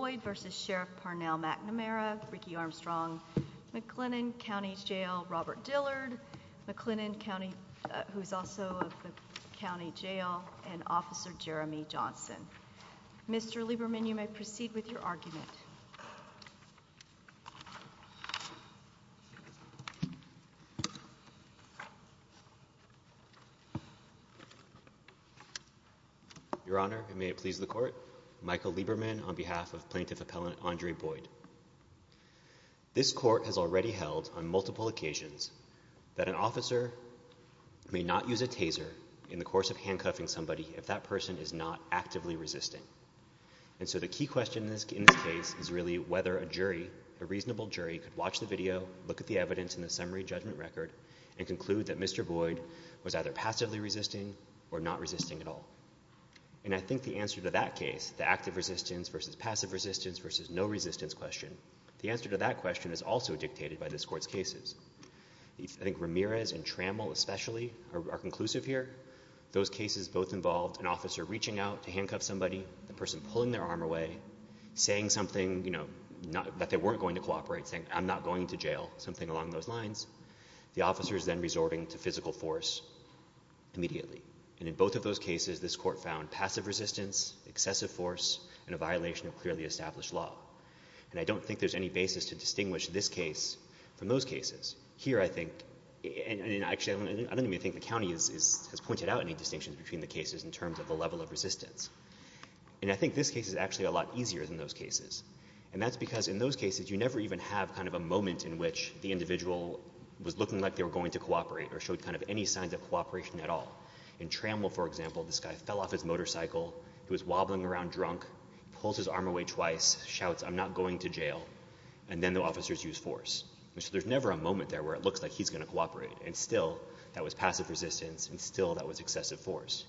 McNamara, Ricky Armstrong, McClennan County Jail, Robert Dillard, McClennan County, who's also of the County Jail, and Officer Jeremy Johnson. Mr. Lieberman, you may proceed with your argument. Your Honor, and may it please the Court, Michael Lieberman on behalf of Plaintiff Appellant Andre Boyd. This Court has already held on multiple occasions that an officer may not use a taser in the course of handcuffing somebody if that person is not actively resisting. And so the key question in this case is really whether a jury, a reasonable jury, could watch the video, look at the evidence in the summary judgment record, and conclude that Mr. Boyd was either passively resisting or not resisting at all. And I think the answer to that case, the active resistance versus passive resistance versus no resistance question, the answer to that question is also dictated by this Court's cases. I think Ramirez and Trammell especially are conclusive here. Those cases both involved an officer reaching out to handcuff somebody, the person pulling their arm away, saying something, you know, that they weren't going to cooperate, saying I'm not going to jail, something along those lines. The officer is then resorting to physical force immediately, and in both of those cases this Court found passive resistance, excessive force, and a violation of clearly established law. And I don't think there's any basis to distinguish this case from those cases. Here I think, and actually I don't even think the county has pointed out any distinctions between the cases in terms of the level of resistance, and I think this case is actually a lot easier than those cases. And that's because in those cases you never even have kind of a moment in which the individual was looking like they were going to cooperate or showed kind of any signs of cooperation at all. In Trammell, for example, this guy fell off his motorcycle, he was wobbling around drunk, he pulls his arm away twice, shouts I'm not going to jail, and then the officers use force. So there's never a moment there where it looks like he's going to cooperate, and still that was passive resistance and still that was excessive force.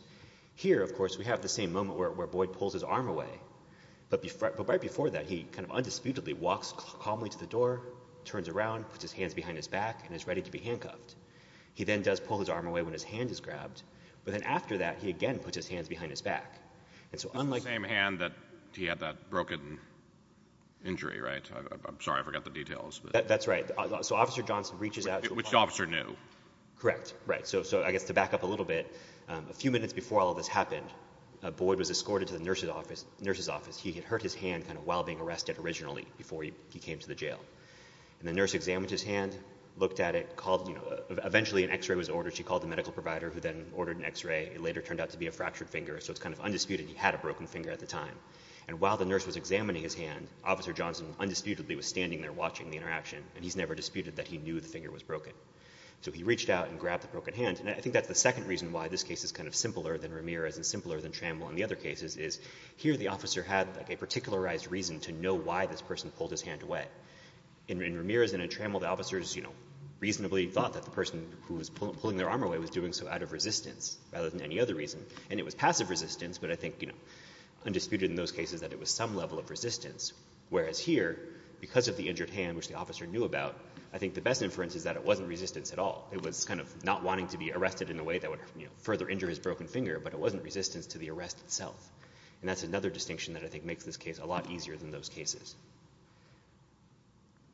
Here of course we have the same moment where Boyd pulls his arm away, but right before that he kind of undisputedly walks calmly to the door, turns around, puts his hands behind his back, and is ready to be handcuffed. He then does pull his arm away when his hand is grabbed, but then after that he again puts his hands behind his back. And so unlike— The same hand that he had that broken injury, right? I'm sorry, I forgot the details. That's right. So Officer Johnson reaches out— Which the officer knew. Correct. Right. So I guess to back up a little bit, a few minutes before all this happened, Boyd was escorted to the nurse's office. He had hurt his hand while being arrested originally before he came to the jail. And the nurse examined his hand, looked at it, eventually an x-ray was ordered, she called the medical provider who then ordered an x-ray, it later turned out to be a fractured finger, so it's kind of undisputed he had a broken finger at the time. And while the nurse was examining his hand, Officer Johnson undisputedly was standing there watching the interaction, and he's never disputed that he knew the finger was broken. So he reached out and grabbed the broken hand, and I think that's the second reason why this case is kind of simpler than Ramirez and simpler than Trammell and the other cases, is here the officer had a particularized reason to know why this person pulled his hand away. In Ramirez and in Trammell, the officers reasonably thought that the person who was pulling their arm away was doing so out of resistance, rather than any other reason. And it was passive resistance, but I think undisputed in those cases that it was some level of resistance. Whereas here, because of the injured hand, which the officer knew about, I think the best inference is that it wasn't resistance at all. It was kind of not wanting to be arrested in a way that would, you know, further injure his broken finger, but it wasn't resistance to the arrest itself. And that's another distinction that I think makes this case a lot easier than those cases.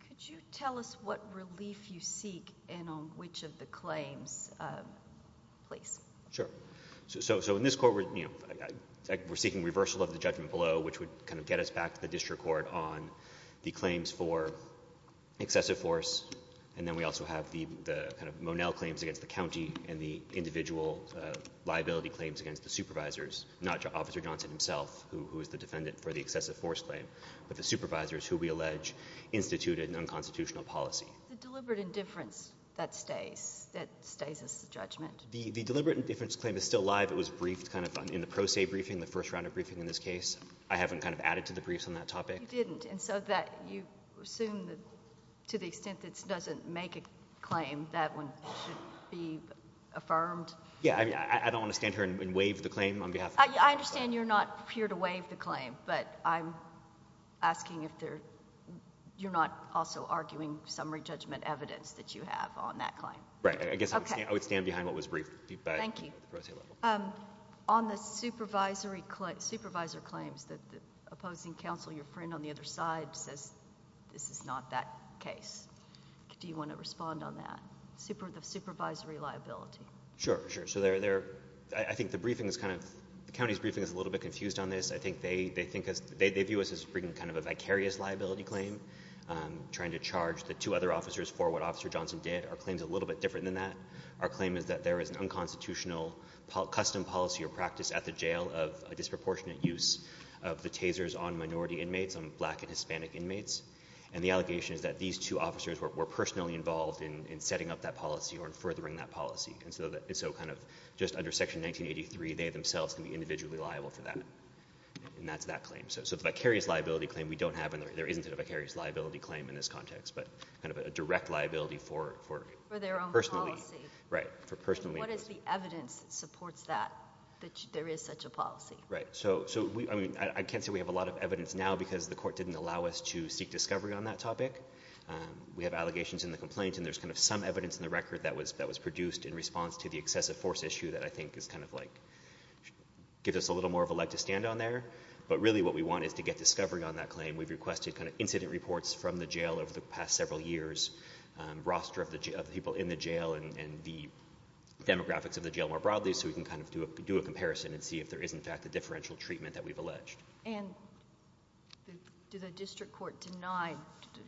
Could you tell us what relief you seek in which of the claims, please? Sure. So in this court, you know, we're seeking reversal of the judgment below, which would kind of get us back to the district court on the claims for excessive force. And then we also have the kind of Monell claims against the county and the individual liability claims against the supervisors, not Officer Johnson himself, who is the defendant for the excessive force claim, but the supervisors who we allege instituted an unconstitutional policy. The deliberate indifference that stays, that stays as the judgment? The deliberate indifference claim is still live. It was briefed kind of in the pro se briefing, the first round of briefing in this case. I haven't kind of added to the briefs on that topic. You didn't. And so that you assume that to the extent that it doesn't make a claim, that one should be affirmed? Yeah. I don't want to stand here and waive the claim on behalf of the pro se. I understand you're not here to waive the claim, but I'm asking if there — you're not also arguing summary judgment evidence that you have on that claim? Right. I guess I would stand behind what was briefed by the pro se level. Thank you. On the supervisory claims, the opposing counsel, your friend on the other side, says this is not that case. Do you want to respond on that, the supervisory liability? Sure, sure. So they're — I think the briefing is kind of — the county's briefing is a little bit confused on this. I think they think — they view us as bringing kind of a vicarious liability claim, trying to charge the two other officers for what Officer Johnson did. Our claim is a little bit different than that. Our claim is that there is an unconstitutional custom policy or practice at the jail of a disproportionate use of the tasers on minority inmates, on black and Hispanic inmates. And the allegation is that these two officers were personally involved in setting up that policy or in furthering that policy. And so kind of just under Section 1983, they themselves can be individually liable for that. And that's that claim. So the vicarious liability claim, we don't have — there isn't a vicarious liability claim in this context, but kind of a direct liability for — Right. For personally — What is the evidence that supports that, that there is such a policy? Right. So, I mean, I can't say we have a lot of evidence now because the court didn't allow us to seek discovery on that topic. We have allegations in the complaint, and there's kind of some evidence in the record that was produced in response to the excessive force issue that I think is kind of like — gives us a little more of a leg to stand on there. But really what we want is to get discovery on that claim. We've requested kind of incident reports from the jail over the past several years, roster of the people in the jail and the demographics of the jail more broadly, so we can kind of do a comparison and see if there is, in fact, a differential treatment that we've alleged. And do the district court deny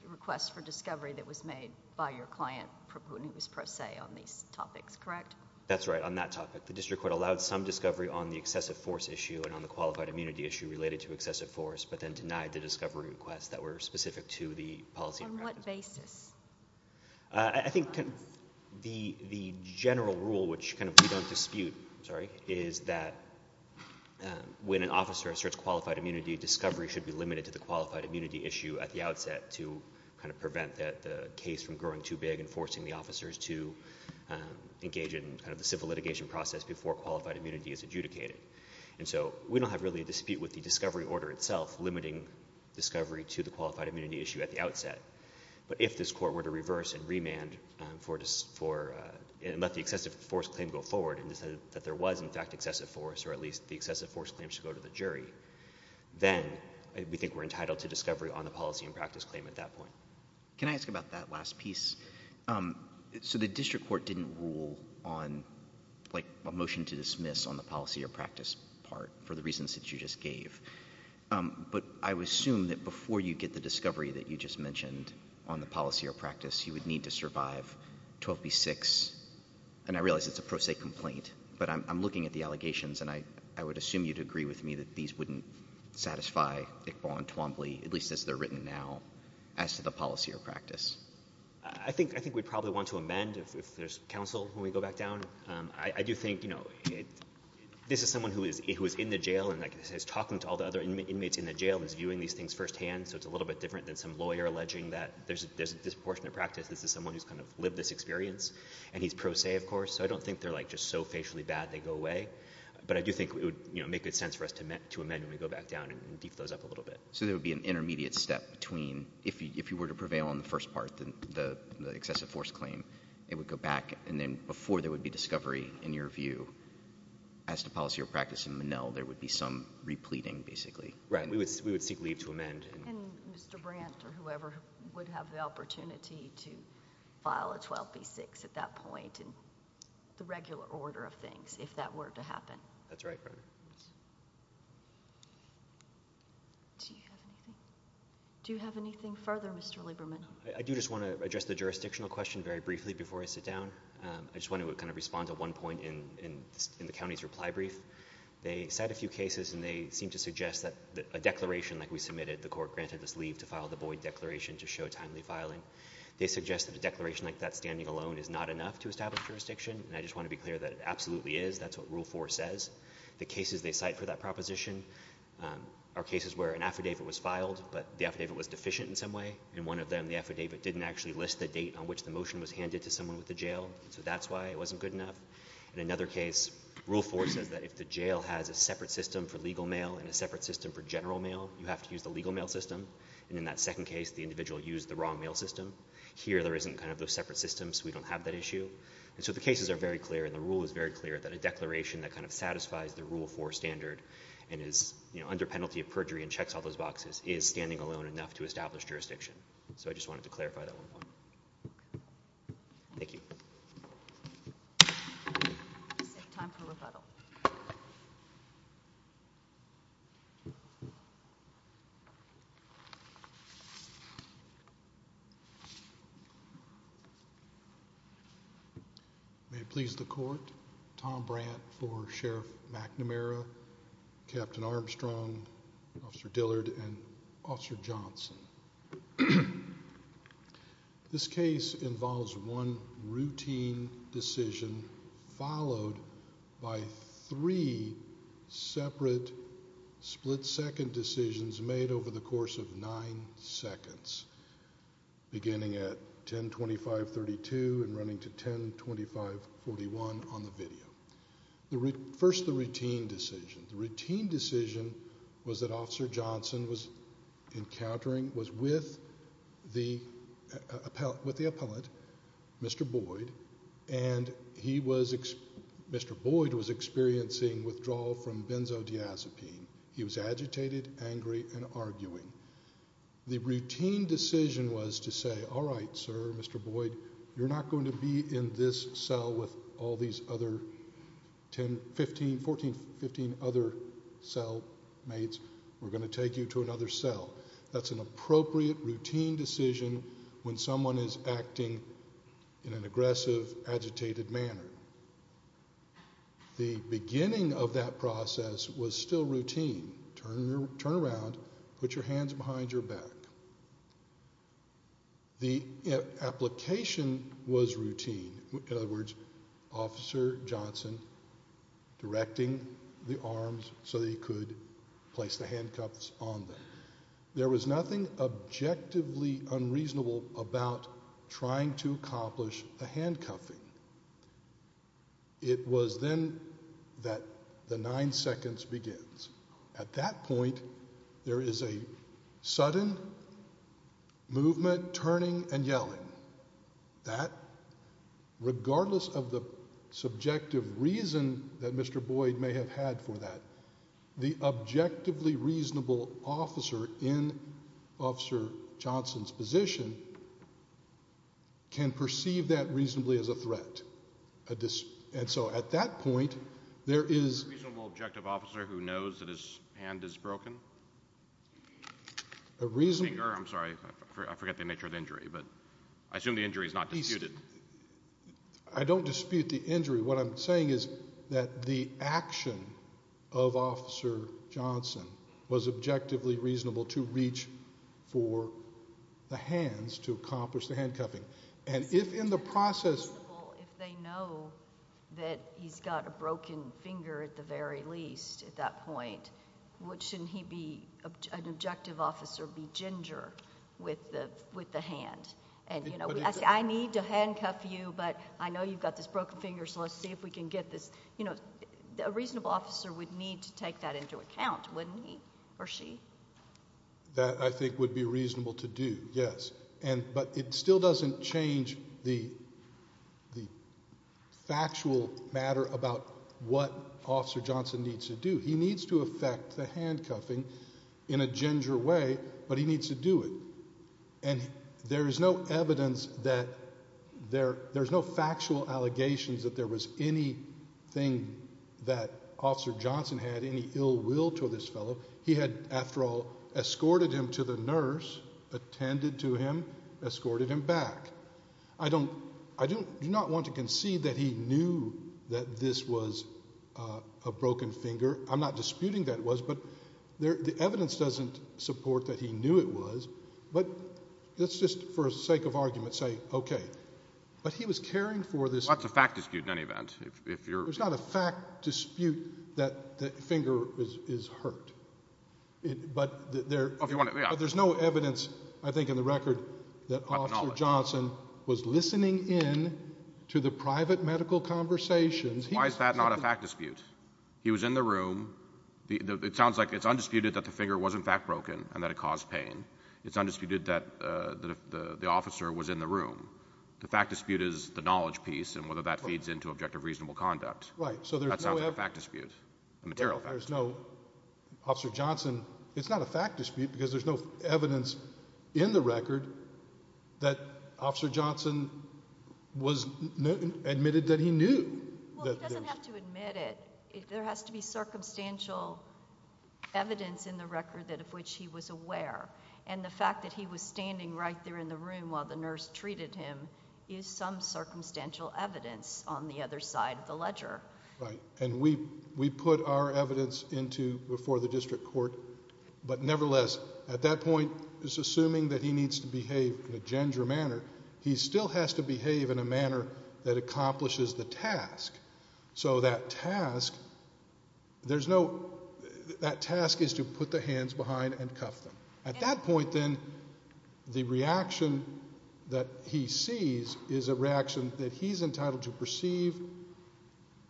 requests for discovery that was made by your client, who was pro se on these topics, correct? That's right. On that topic. The district court allowed some discovery on the excessive force issue and on the qualified immunity issue related to excessive force, but then denied the discovery requests that were specific to the policy — On what basis? I think the general rule, which kind of we don't dispute, sorry, is that when an officer asserts qualified immunity, discovery should be limited to the qualified immunity issue at the outset to kind of prevent the case from growing too big and forcing the officers to engage in kind of the civil litigation process before qualified immunity is adjudicated. And so we don't have really a dispute with the discovery order itself limiting discovery to the qualified immunity issue at the outset. But if this court were to reverse and remand for — and let the excessive force claim go forward and decided that there was, in fact, excessive force or at least the excessive force claim should go to the jury, then we think we're entitled to discovery on the policy and practice claim at that point. Can I ask about that last piece? So the district court didn't rule on, like, a motion to dismiss on the policy or practice part for the reasons that you just gave. But I would assume that before you get the discovery that you just mentioned on the policy or practice, you would need to survive 12b-6. And I realize it's a pro se complaint, but I'm looking at the allegations, and I would assume you'd agree with me that these wouldn't satisfy Iqbal and Twombly, at least as they're written now, as to the policy or practice. I think we'd probably want to amend if there's counsel when we go back down. I do think, you know, this is someone who is in the jail and, like I said, is talking to all the other inmates in the jail and is viewing these things firsthand, so it's a little bit different than some lawyer alleging that there's a disproportionate practice. This is someone who's kind of lived this experience, and he's pro se, of course, so I don't think they're, like, just so facially bad they go away. But I do think it would make good sense for us to amend when we go back down and beef those up a little bit. So there would be an intermediate step between — if you were to prevail on the first part, the excessive force claim, it would go back, and then before there would be discovery, in your view, as to policy or practice in Monell, there would be some repleting, basically. Right. We would seek leave to amend. And Mr. Brandt or whoever would have the opportunity to file a 12b-6 at that point in the regular order of things, if that were to happen. That's right, Your Honor. Do you have anything? Do you have anything further, Mr. Lieberman? I do just want to address the jurisdictional question very briefly before I sit down. I just want to kind of respond to one point in the county's reply brief. They cite a few cases, and they seem to suggest that a declaration like we submitted, the court granted us leave to file the Boyd Declaration to show timely filing. They suggest that a declaration like that standing alone is not enough to establish jurisdiction, and I just want to be clear that it absolutely is. That's what Rule 4 says. The cases they cite for that proposition are cases where an affidavit was filed, but the affidavit didn't actually list the date on which the motion was handed to someone with the jail. So that's why it wasn't good enough. In another case, Rule 4 says that if the jail has a separate system for legal mail and a separate system for general mail, you have to use the legal mail system. And in that second case, the individual used the wrong mail system. Here there isn't kind of those separate systems. We don't have that issue. And so the cases are very clear, and the rule is very clear that a declaration that kind of satisfies the Rule 4 standard and is, you know, under penalty of perjury and checks all those boxes is standing alone enough to establish jurisdiction. So I just wanted to clarify that one more time. Thank you. We have time for rebuttal. May it please the Court. Tom Brandt for Sheriff McNamara, Captain Armstrong, Officer Dillard, and Officer Johnson. This case involves one routine decision followed by three separate split-second decisions made over the course of nine seconds, beginning at 10.25.32 and running to 10.25.41 on the video. First, the routine decision. The routine decision was that Officer Johnson was encountering, was with the appellate, Mr. Boyd, and he was, Mr. Boyd was experiencing withdrawal from benzodiazepine. He was agitated, angry, and arguing. The routine decision was to say, all right, sir, Mr. Boyd, you're not going to be in this cell with all these other 10, 15, 14, 15 other cell mates. We're going to take you to another cell. That's an appropriate routine decision when someone is acting in an aggressive, agitated manner. The beginning of that process was still routine. Turn around, put your hands behind your back. The application was routine. In other words, Officer Johnson directing the arms so that he could place the handcuffs on them. There was nothing objectively unreasonable about trying to accomplish the handcuffing. It was then that the nine seconds begins. At that point, there is a sudden movement, turning, and yelling. That, regardless of the subjective reason that Mr. Boyd may have had for that, the objectively reasonable officer in Officer Johnson's position can perceive that reasonably as a threat. At that point, there is... A reasonable, objective officer who knows that his hand is broken? I'm sorry. I forget the nature of the injury, but I assume the injury is not disputed. I don't dispute the injury. What I'm saying is that the action of Officer Johnson was objectively reasonable to reach for the hands to accomplish the handcuffing. If in the process... If they know that he's got a broken finger at the very least at that point, what shouldn't an objective officer be ginger with the hand? We ask, I need to handcuff you, but I know you've got this broken finger, so let's see if we can get this... A reasonable officer would need to take that into account, wouldn't he or she? That, I think, would be reasonable to do, yes. But it still doesn't change the factual matter about what Officer Johnson needs to do. He needs to affect the handcuffing in a ginger way, but he needs to do it. And there is no evidence that... There's no factual allegations that there was anything that Officer Johnson had, any ill will to this fellow. He had, after all, escorted him to the nurse, attended to him, escorted him back. I do not want to concede that he knew that this was a broken finger. I'm not disputing that it was, but the evidence doesn't support that he knew it was. But let's just, for the sake of argument, say, okay. But he was caring for this... Well, that's a fact dispute in any event. There's not a fact dispute that the finger is hurt. But there's no evidence, I think, in the record that Officer Johnson was listening in to the private medical conversations. Why is that not a fact dispute? He was in the room. It sounds like it's undisputed that the finger was, in fact, broken and that it caused pain. It's undisputed that the officer was in the room. The fact dispute is the knowledge piece and whether that feeds into objective reasonable conduct. Right, so there's no evidence... That sounds like a fact dispute, a material fact dispute. There's no... Officer Johnson... It's not a fact dispute because there's no evidence in the record that Officer Johnson admitted that he knew that there was... Well, he doesn't have to admit it. There has to be circumstantial evidence in the record that of which he was aware. And the fact that he was standing right there in the room while the nurse treated him is some circumstantial evidence on the other side of the ledger. Right. And we put our evidence into before the district court. But nevertheless, at that point, it's assuming that he needs to behave in a ginger manner. He still has to behave in a manner that accomplishes the task. So that task, there's no... That task is to put the hands behind and cuff them. At that point, then, the reaction that he sees is a reaction that he's entitled to perceive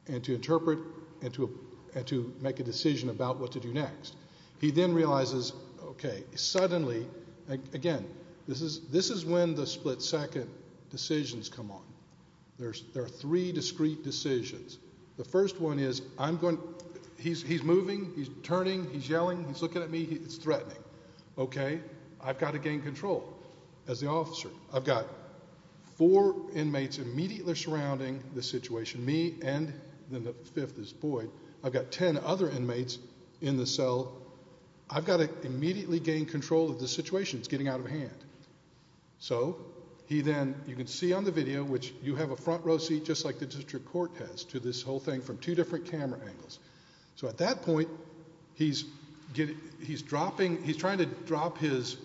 and to interpret and to make a decision about what to do next. He then realizes, okay, suddenly... Again, this is when the split-second decisions come on. There are three discrete decisions. The first one is I'm going... He's moving. He's turning. He's yelling. He's looking at me. It's threatening. Okay. I've got to gain control as the officer. I've got four inmates immediately surrounding the situation, me, and then the fifth is Boyd. I've got ten other inmates in the cell. I've got to immediately gain control of the situation. It's getting out of hand. So he then... You can see on the video, which you have a front row seat just like the district court has to this whole thing from two different camera angles. So at that point, he's getting... He's dropping... He's trying to drop his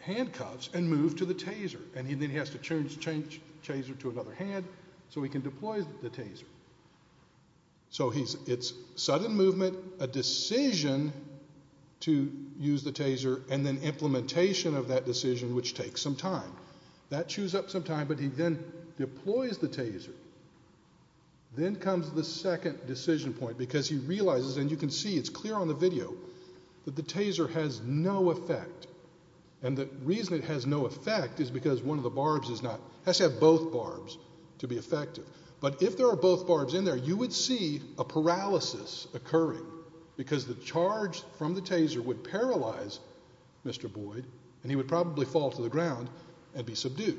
handcuffs and move to the taser. And then he has to change the taser to another hand so he can deploy the taser. So it's sudden movement, a decision to use the taser, and then implementation of that decision, which takes some time. That chews up some time, but he then deploys the taser. Then comes the second decision point because he realizes, and you can see, it's clear on the video, that the taser has no effect. And the reason it has no effect is because one of the barbs is not... It has to have both barbs to be effective. But if there are both barbs in there, you would see a paralysis occurring because the charge from the taser would paralyze Mr. Boyd, and he would probably fall to the ground and be subdued.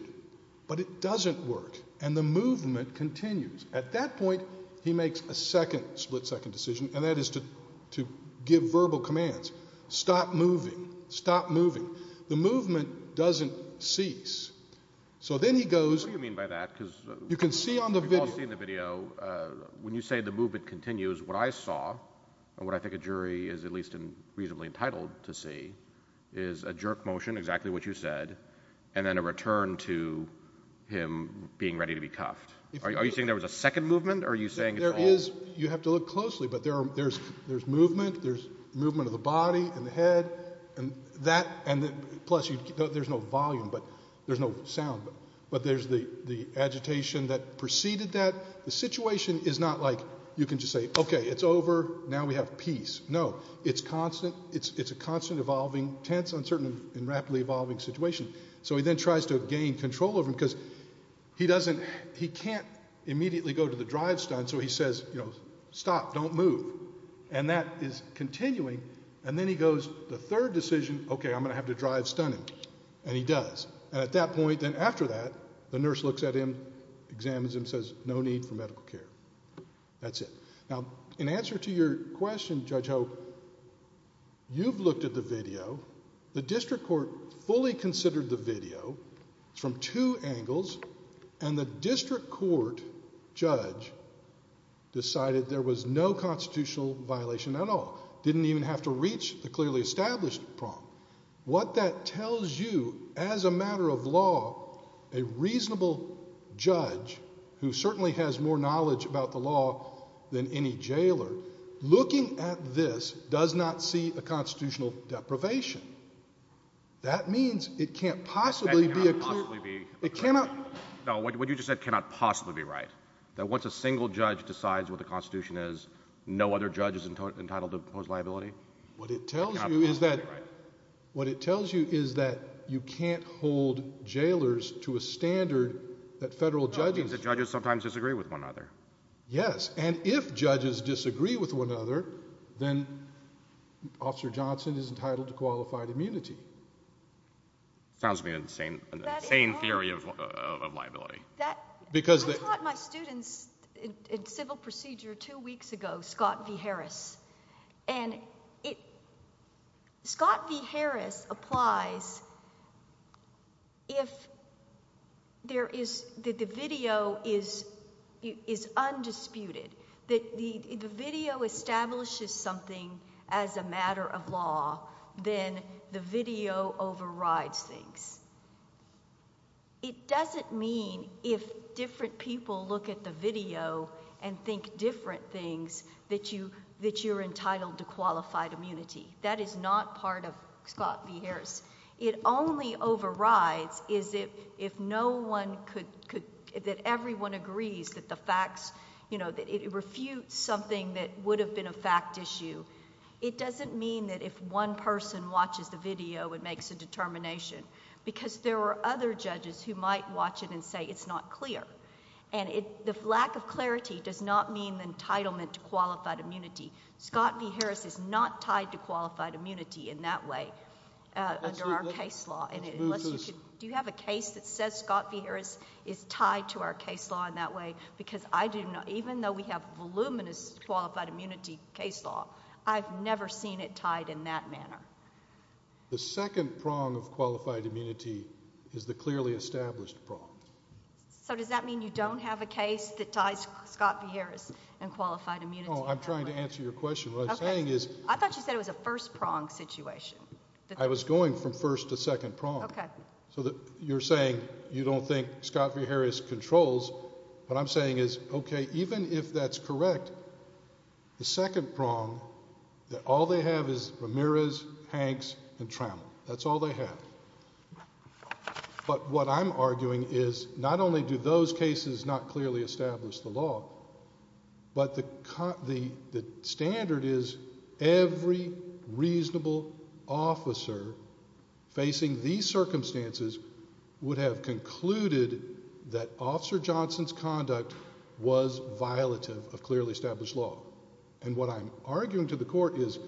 But it doesn't work, and the movement continues. At that point, he makes a second split-second decision, and that is to give verbal commands. Stop moving. Stop moving. The movement doesn't cease. So then he goes... What do you mean by that? You can see on the video... We've all seen the video. When you say the movement continues, what I saw, and what I think a jury is at least reasonably entitled to see, is a jerk motion, exactly what you said, and then a return to him being ready to be cuffed. Are you saying there was a second movement, or are you saying it's all... You have to look closely, but there's movement. There's movement of the body and the head. Plus, there's no volume, but there's no sound. But there's the agitation that preceded that. The situation is not like you can just say, okay, it's over, now we have peace. No, it's constant. It's a constant, evolving, tense, uncertain, and rapidly evolving situation. So he then tries to gain control of him, because he can't immediately go to the drive stunt, so he says, stop, don't move. And that is continuing, and then he goes, the third decision, okay, I'm going to have to drive stunt him. And he does. And at that point, then after that, the nurse looks at him, examines him, says, no need for medical care. That's it. Now, in answer to your question, Judge Hope, you've looked at the video. The district court fully considered the video from two angles, and the district court judge decided there was no constitutional violation at all. Didn't even have to reach the clearly established prong. What that tells you, as a matter of law, a reasonable judge, who certainly has more knowledge about the law than any jailer, looking at this does not see a constitutional deprivation. That means it can't possibly be a clear... That cannot possibly be... It cannot... No, what you just said cannot possibly be right. That once a single judge decides what the Constitution is, no other judge is entitled to impose liability? What it tells you is that... It cannot possibly be right. What it tells you is that you can't hold jailers to a standard that federal judges... That means that judges sometimes disagree with one another. Yes, and if judges disagree with one another, then Officer Johnson is entitled to qualified immunity. Sounds to me an insane theory of liability. I taught my students in civil procedure two weeks ago, Scott V. Harris, and Scott V. Harris applies if the video is undisputed, that if the video establishes something as a matter of law, then the video overrides things. It doesn't mean if different people look at the video and think different things, that you're entitled to qualified immunity. That is not part of Scott V. Harris. It only overrides if no one could... It refutes something that would have been a fact issue. It doesn't mean that if one person watches the video, it makes a determination, because there are other judges who might watch it and say it's not clear. The lack of clarity does not mean entitlement to qualified immunity. Scott V. Harris is not tied to qualified immunity in that way, under our case law. Do you have a case that says Scott V. Harris is tied to our case law in that way? Even though we have voluminous qualified immunity case law, I've never seen it tied in that manner. The second prong of qualified immunity is the clearly established prong. Does that mean you don't have a case that ties Scott V. Harris and qualified immunity? I'm trying to answer your question. I thought you said it was a first prong situation. I was going from first to second prong. You're saying you don't think Scott V. Harris controls, but I'm saying is, okay, even if that's correct, the second prong that all they have is Ramirez, Hanks, and Trammell. That's all they have. But what I'm arguing is not only do those cases not clearly establish the law, but the standard is every reasonable officer facing these circumstances would have concluded that Officer Johnson's conduct was violative of clearly established law. And what I'm arguing to the court is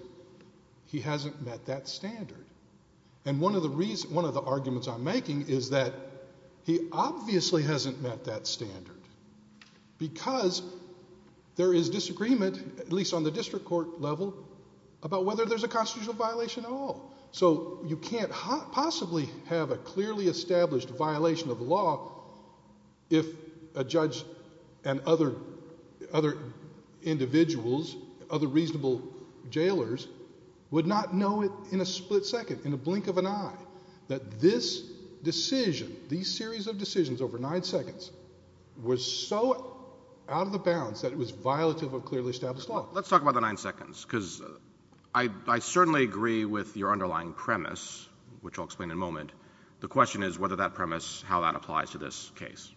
he hasn't met that standard. And one of the arguments I'm making is that he obviously hasn't met that standard because there is disagreement, at least on the district court level, so you can't possibly have a clearly established violation of the law if a judge and other individuals, other reasonable jailers, would not know it in a split second, in the blink of an eye, that this decision, these series of decisions over nine seconds, was so out of the bounds that it was violative of clearly established law. Well, let's talk about the nine seconds, because I certainly agree with your underlying premise, which I'll explain in a moment. The question is whether that premise, how that applies to this case.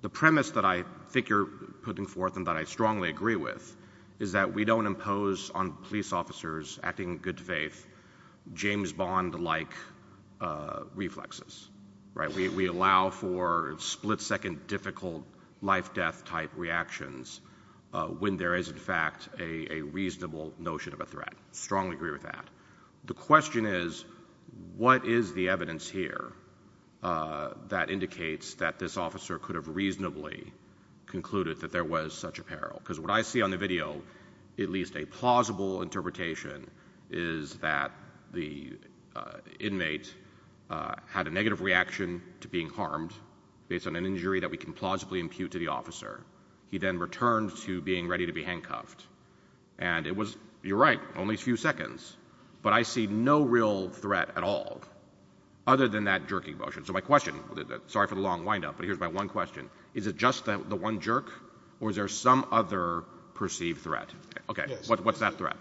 The premise that I think you're putting forth and that I strongly agree with is that we don't impose on police officers acting in good faith James Bond-like reflexes. We allow for split-second difficult life-death-type reactions when there is, in fact, a reasonable notion of a threat. I strongly agree with that. The question is, what is the evidence here that indicates that this officer could have reasonably concluded that there was such a peril? Because what I see on the video, at least a plausible interpretation, is that the inmate had a negative reaction to being harmed, based on an injury that we can plausibly impute to the officer. He then returned to being ready to be handcuffed. And it was, you're right, only a few seconds. But I see no real threat at all, other than that jerking motion. So my question, sorry for the long wind-up, but here's my one question. Is it just the one jerk, or is there some other perceived threat? Okay, what's that threat?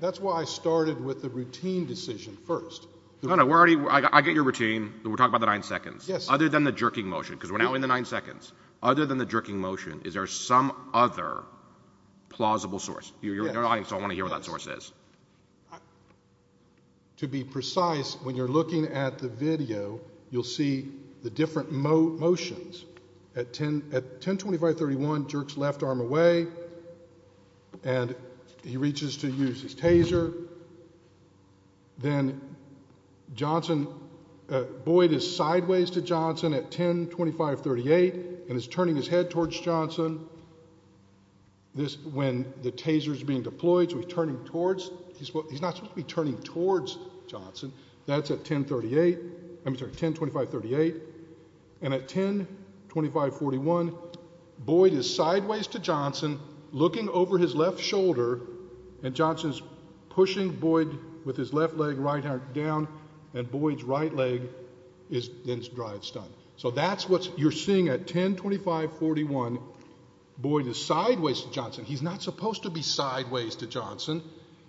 That's why I started with the routine decision first. No, no, I get your routine. We're talking about the nine seconds. Yes. Other than the jerking motion, because we're now in the nine seconds. Other than the jerking motion, is there some other plausible source? Your audience don't want to hear what that source is. To be precise, when you're looking at the video, you'll see the different motions. At 1025-31, jerks left arm away, and he reaches to use his taser. Then Boyd is sideways to Johnson at 1025-38, and is turning his head towards Johnson. When the taser's being deployed, he's not supposed to be turning towards Johnson. That's at 1025-38. And at 1025-41, Boyd is sideways to Johnson, looking over his left shoulder, and Johnson's pushing Boyd with his left leg, right arm down, and Boyd's right leg then drives down. So that's what you're seeing at 1025-41. Boyd is sideways to Johnson. He's not supposed to be sideways to Johnson,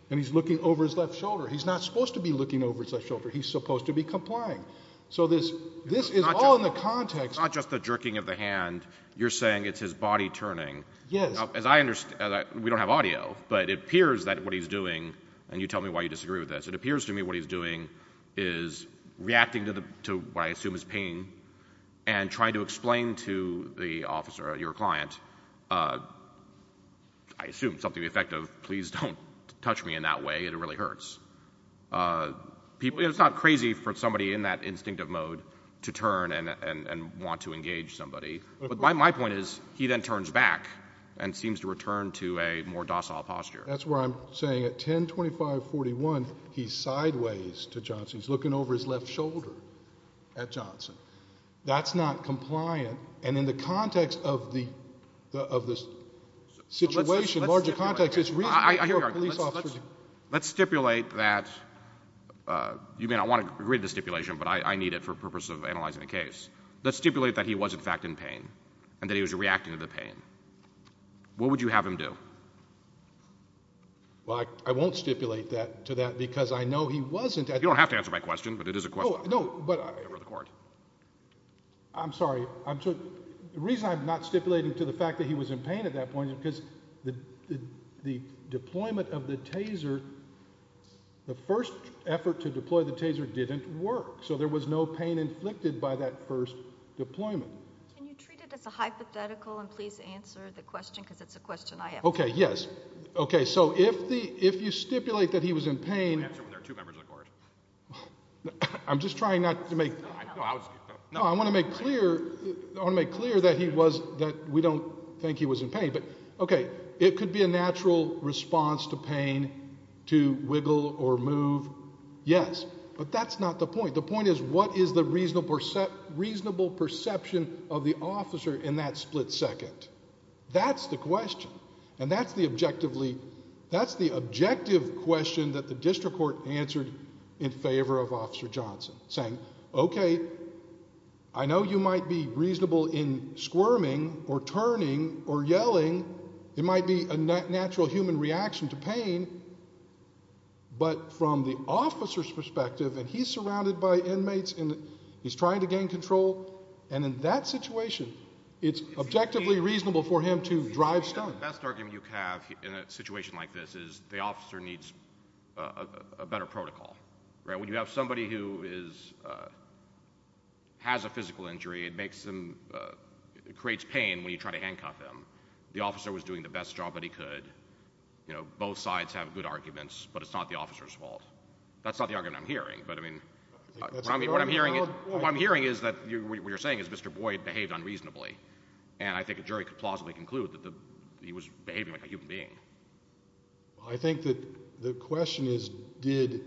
and he's looking over his left shoulder. He's not supposed to be looking over his left shoulder. He's supposed to be complying. So this is all in the context. It's not just the jerking of the hand. You're saying it's his body turning. Yes. We don't have audio, but it appears that what he's doing, and you tell me why you disagree with this, it appears to me what he's doing is reacting to what I assume is pain, and trying to explain to the officer or your client, I assume something effective, please don't touch me in that way, it really hurts. It's not crazy for somebody in that instinctive mode to turn and want to engage somebody. My point is he then turns back and seems to return to a more docile posture. That's why I'm saying at 1025-41 he's sideways to Johnson. He's looking over his left shoulder at Johnson. That's not compliant, and in the context of the situation, larger context, it's reasonable for a police officer to Let's stipulate that, you may not want to read the stipulation, but I need it for the purpose of analyzing the case. Let's stipulate that he was in fact in pain, and that he was reacting to the pain. What would you have him do? Well, I won't stipulate to that because I know he wasn't. You don't have to answer my question, but it is a question. No, but I'm sorry. The reason I'm not stipulating to the fact that he was in pain at that point is because the deployment of the taser, the first effort to deploy the taser didn't work, so there was no pain inflicted by that first deployment. Can you treat it as a hypothetical and please answer the question, because it's a question I have. Okay, yes. Okay, so if you stipulate that he was in pain, Answer when there are two members of the court. I'm just trying not to make No, I was No, I want to make clear that we don't think he was in pain. Okay, it could be a natural response to pain to wiggle or move. Yes, but that's not the point. The point is what is the reasonable perception of the officer in that split second? That's the question, and that's the objective question that the district court answered in favor of Officer Johnson, saying, okay, I know you might be reasonable in squirming or turning or yelling. But from the officer's perspective, and he's surrounded by inmates, and he's trying to gain control, and in that situation, it's objectively reasonable for him to drive stunts. The best argument you can have in a situation like this is the officer needs a better protocol. When you have somebody who has a physical injury, it creates pain when you try to handcuff him. The officer was doing the best job that he could. Both sides have good arguments, but it's not the officer's fault. That's not the argument I'm hearing. What I'm hearing is that what you're saying is Mr. Boyd behaved unreasonably, and I think a jury could plausibly conclude that he was behaving like a human being. I think that the question is, did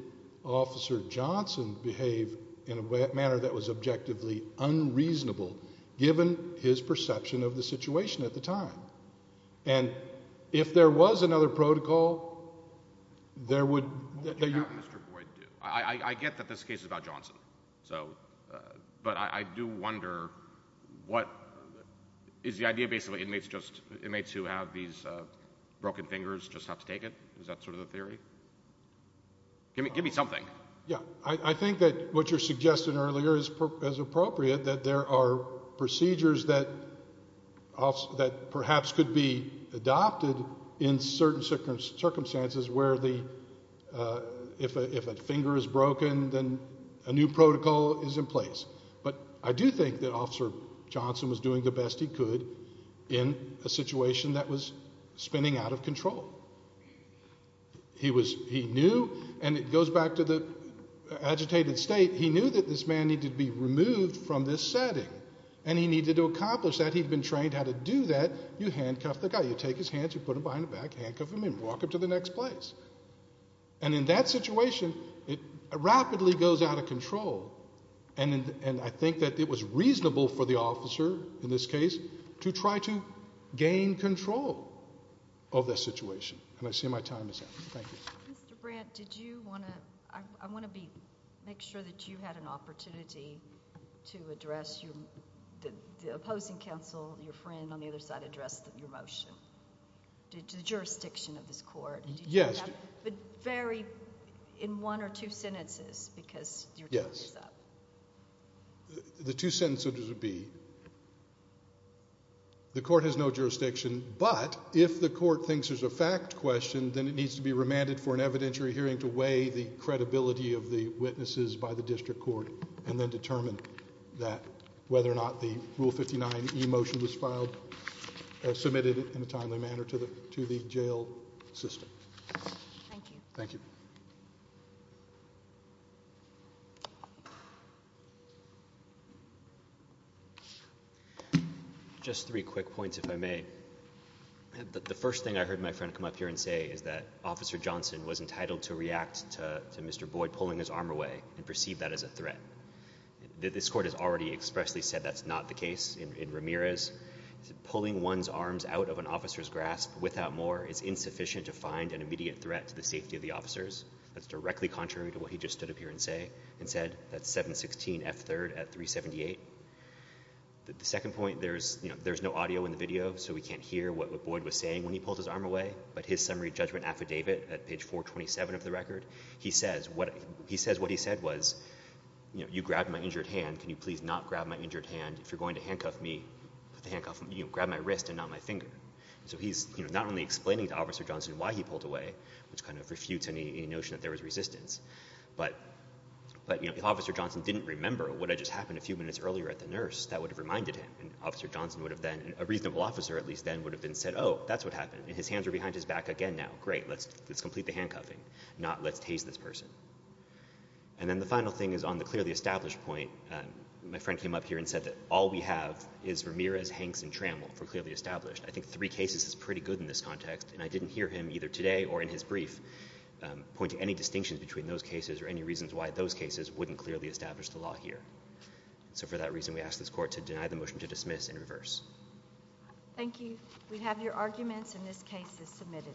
Officer Johnson behave in a manner that was objectively unreasonable given his perception of the situation at the time? And if there was another protocol, there would— What would you have Mr. Boyd do? I get that this case is about Johnson, so— but I do wonder what— is the idea basically that inmates who have these broken fingers just have to take it? Is that sort of the theory? Give me something. Yeah, I think that what you're suggesting earlier is appropriate, that there are procedures that perhaps could be adopted in certain circumstances where if a finger is broken, then a new protocol is in place. But I do think that Officer Johnson was doing the best he could in a situation that was spinning out of control. He knew, and it goes back to the agitated state, he knew that this man needed to be removed from this setting, and he needed to accomplish that. He'd been trained how to do that. You handcuff the guy. You take his hands, you put them behind the back, handcuff him and walk him to the next place. And in that situation, it rapidly goes out of control. And I think that it was reasonable for the officer, in this case, to try to gain control of the situation. And I see my time is up. Thank you. Mr. Brandt, I want to make sure that you had an opportunity to address the opposing counsel, your friend on the other side, addressed your motion, the jurisdiction of this court. Yes. But vary in one or two sentences, because your time is up. Yes. The two sentences would be, the court has no jurisdiction, but if the court thinks there's a fact question, then it needs to be remanded for an evidentiary hearing to weigh the credibility of the witnesses by the district court, and then determine whether or not the Rule 59 e-motion was filed, submitted in a timely manner to the jail system. Thank you. Thank you. Just three quick points, if I may. The first thing I heard my friend come up here and say is that Officer Johnson was entitled to react to Mr. Boyd pulling his arm away, and perceived that as a threat. This court has already expressly said that's not the case in Ramirez. Pulling one's arms out of an officer's grasp without more is insufficient to find an immediate threat to the safety of the officers. That's directly contrary to what he just stood up here and said. That's 716 F3rd at 378. The second point, there's no audio in the video, so we can't hear what Boyd was saying when he pulled his arm away, but his summary judgment affidavit at page 427 of the record, he says what he said was, you grabbed my injured hand, can you please not grab my injured hand? If you're going to handcuff me, grab my wrist and not my finger. So he's not only explaining to Officer Johnson why he pulled away, which kind of refutes any notion that there was resistance, but if Officer Johnson didn't remember what had just happened a few minutes earlier at the nurse, that would have reminded him. And Officer Johnson would have then, a reasonable officer at least then, would have then said, oh, that's what happened. And his hands are behind his back again now. Great, let's complete the handcuffing, not let's tase this person. And then the final thing is on the clearly established point, my friend came up here and said that all we have is Ramirez, Hanks, and Trammell for clearly established. I think three cases is pretty good in this context, and I didn't hear him either today or in his brief point to any distinctions between those cases or any reasons why those cases wouldn't clearly establish the law here. So for that reason, we ask this court to deny the motion to dismiss and reverse. Thank you. We have your arguments, and this case is submitted.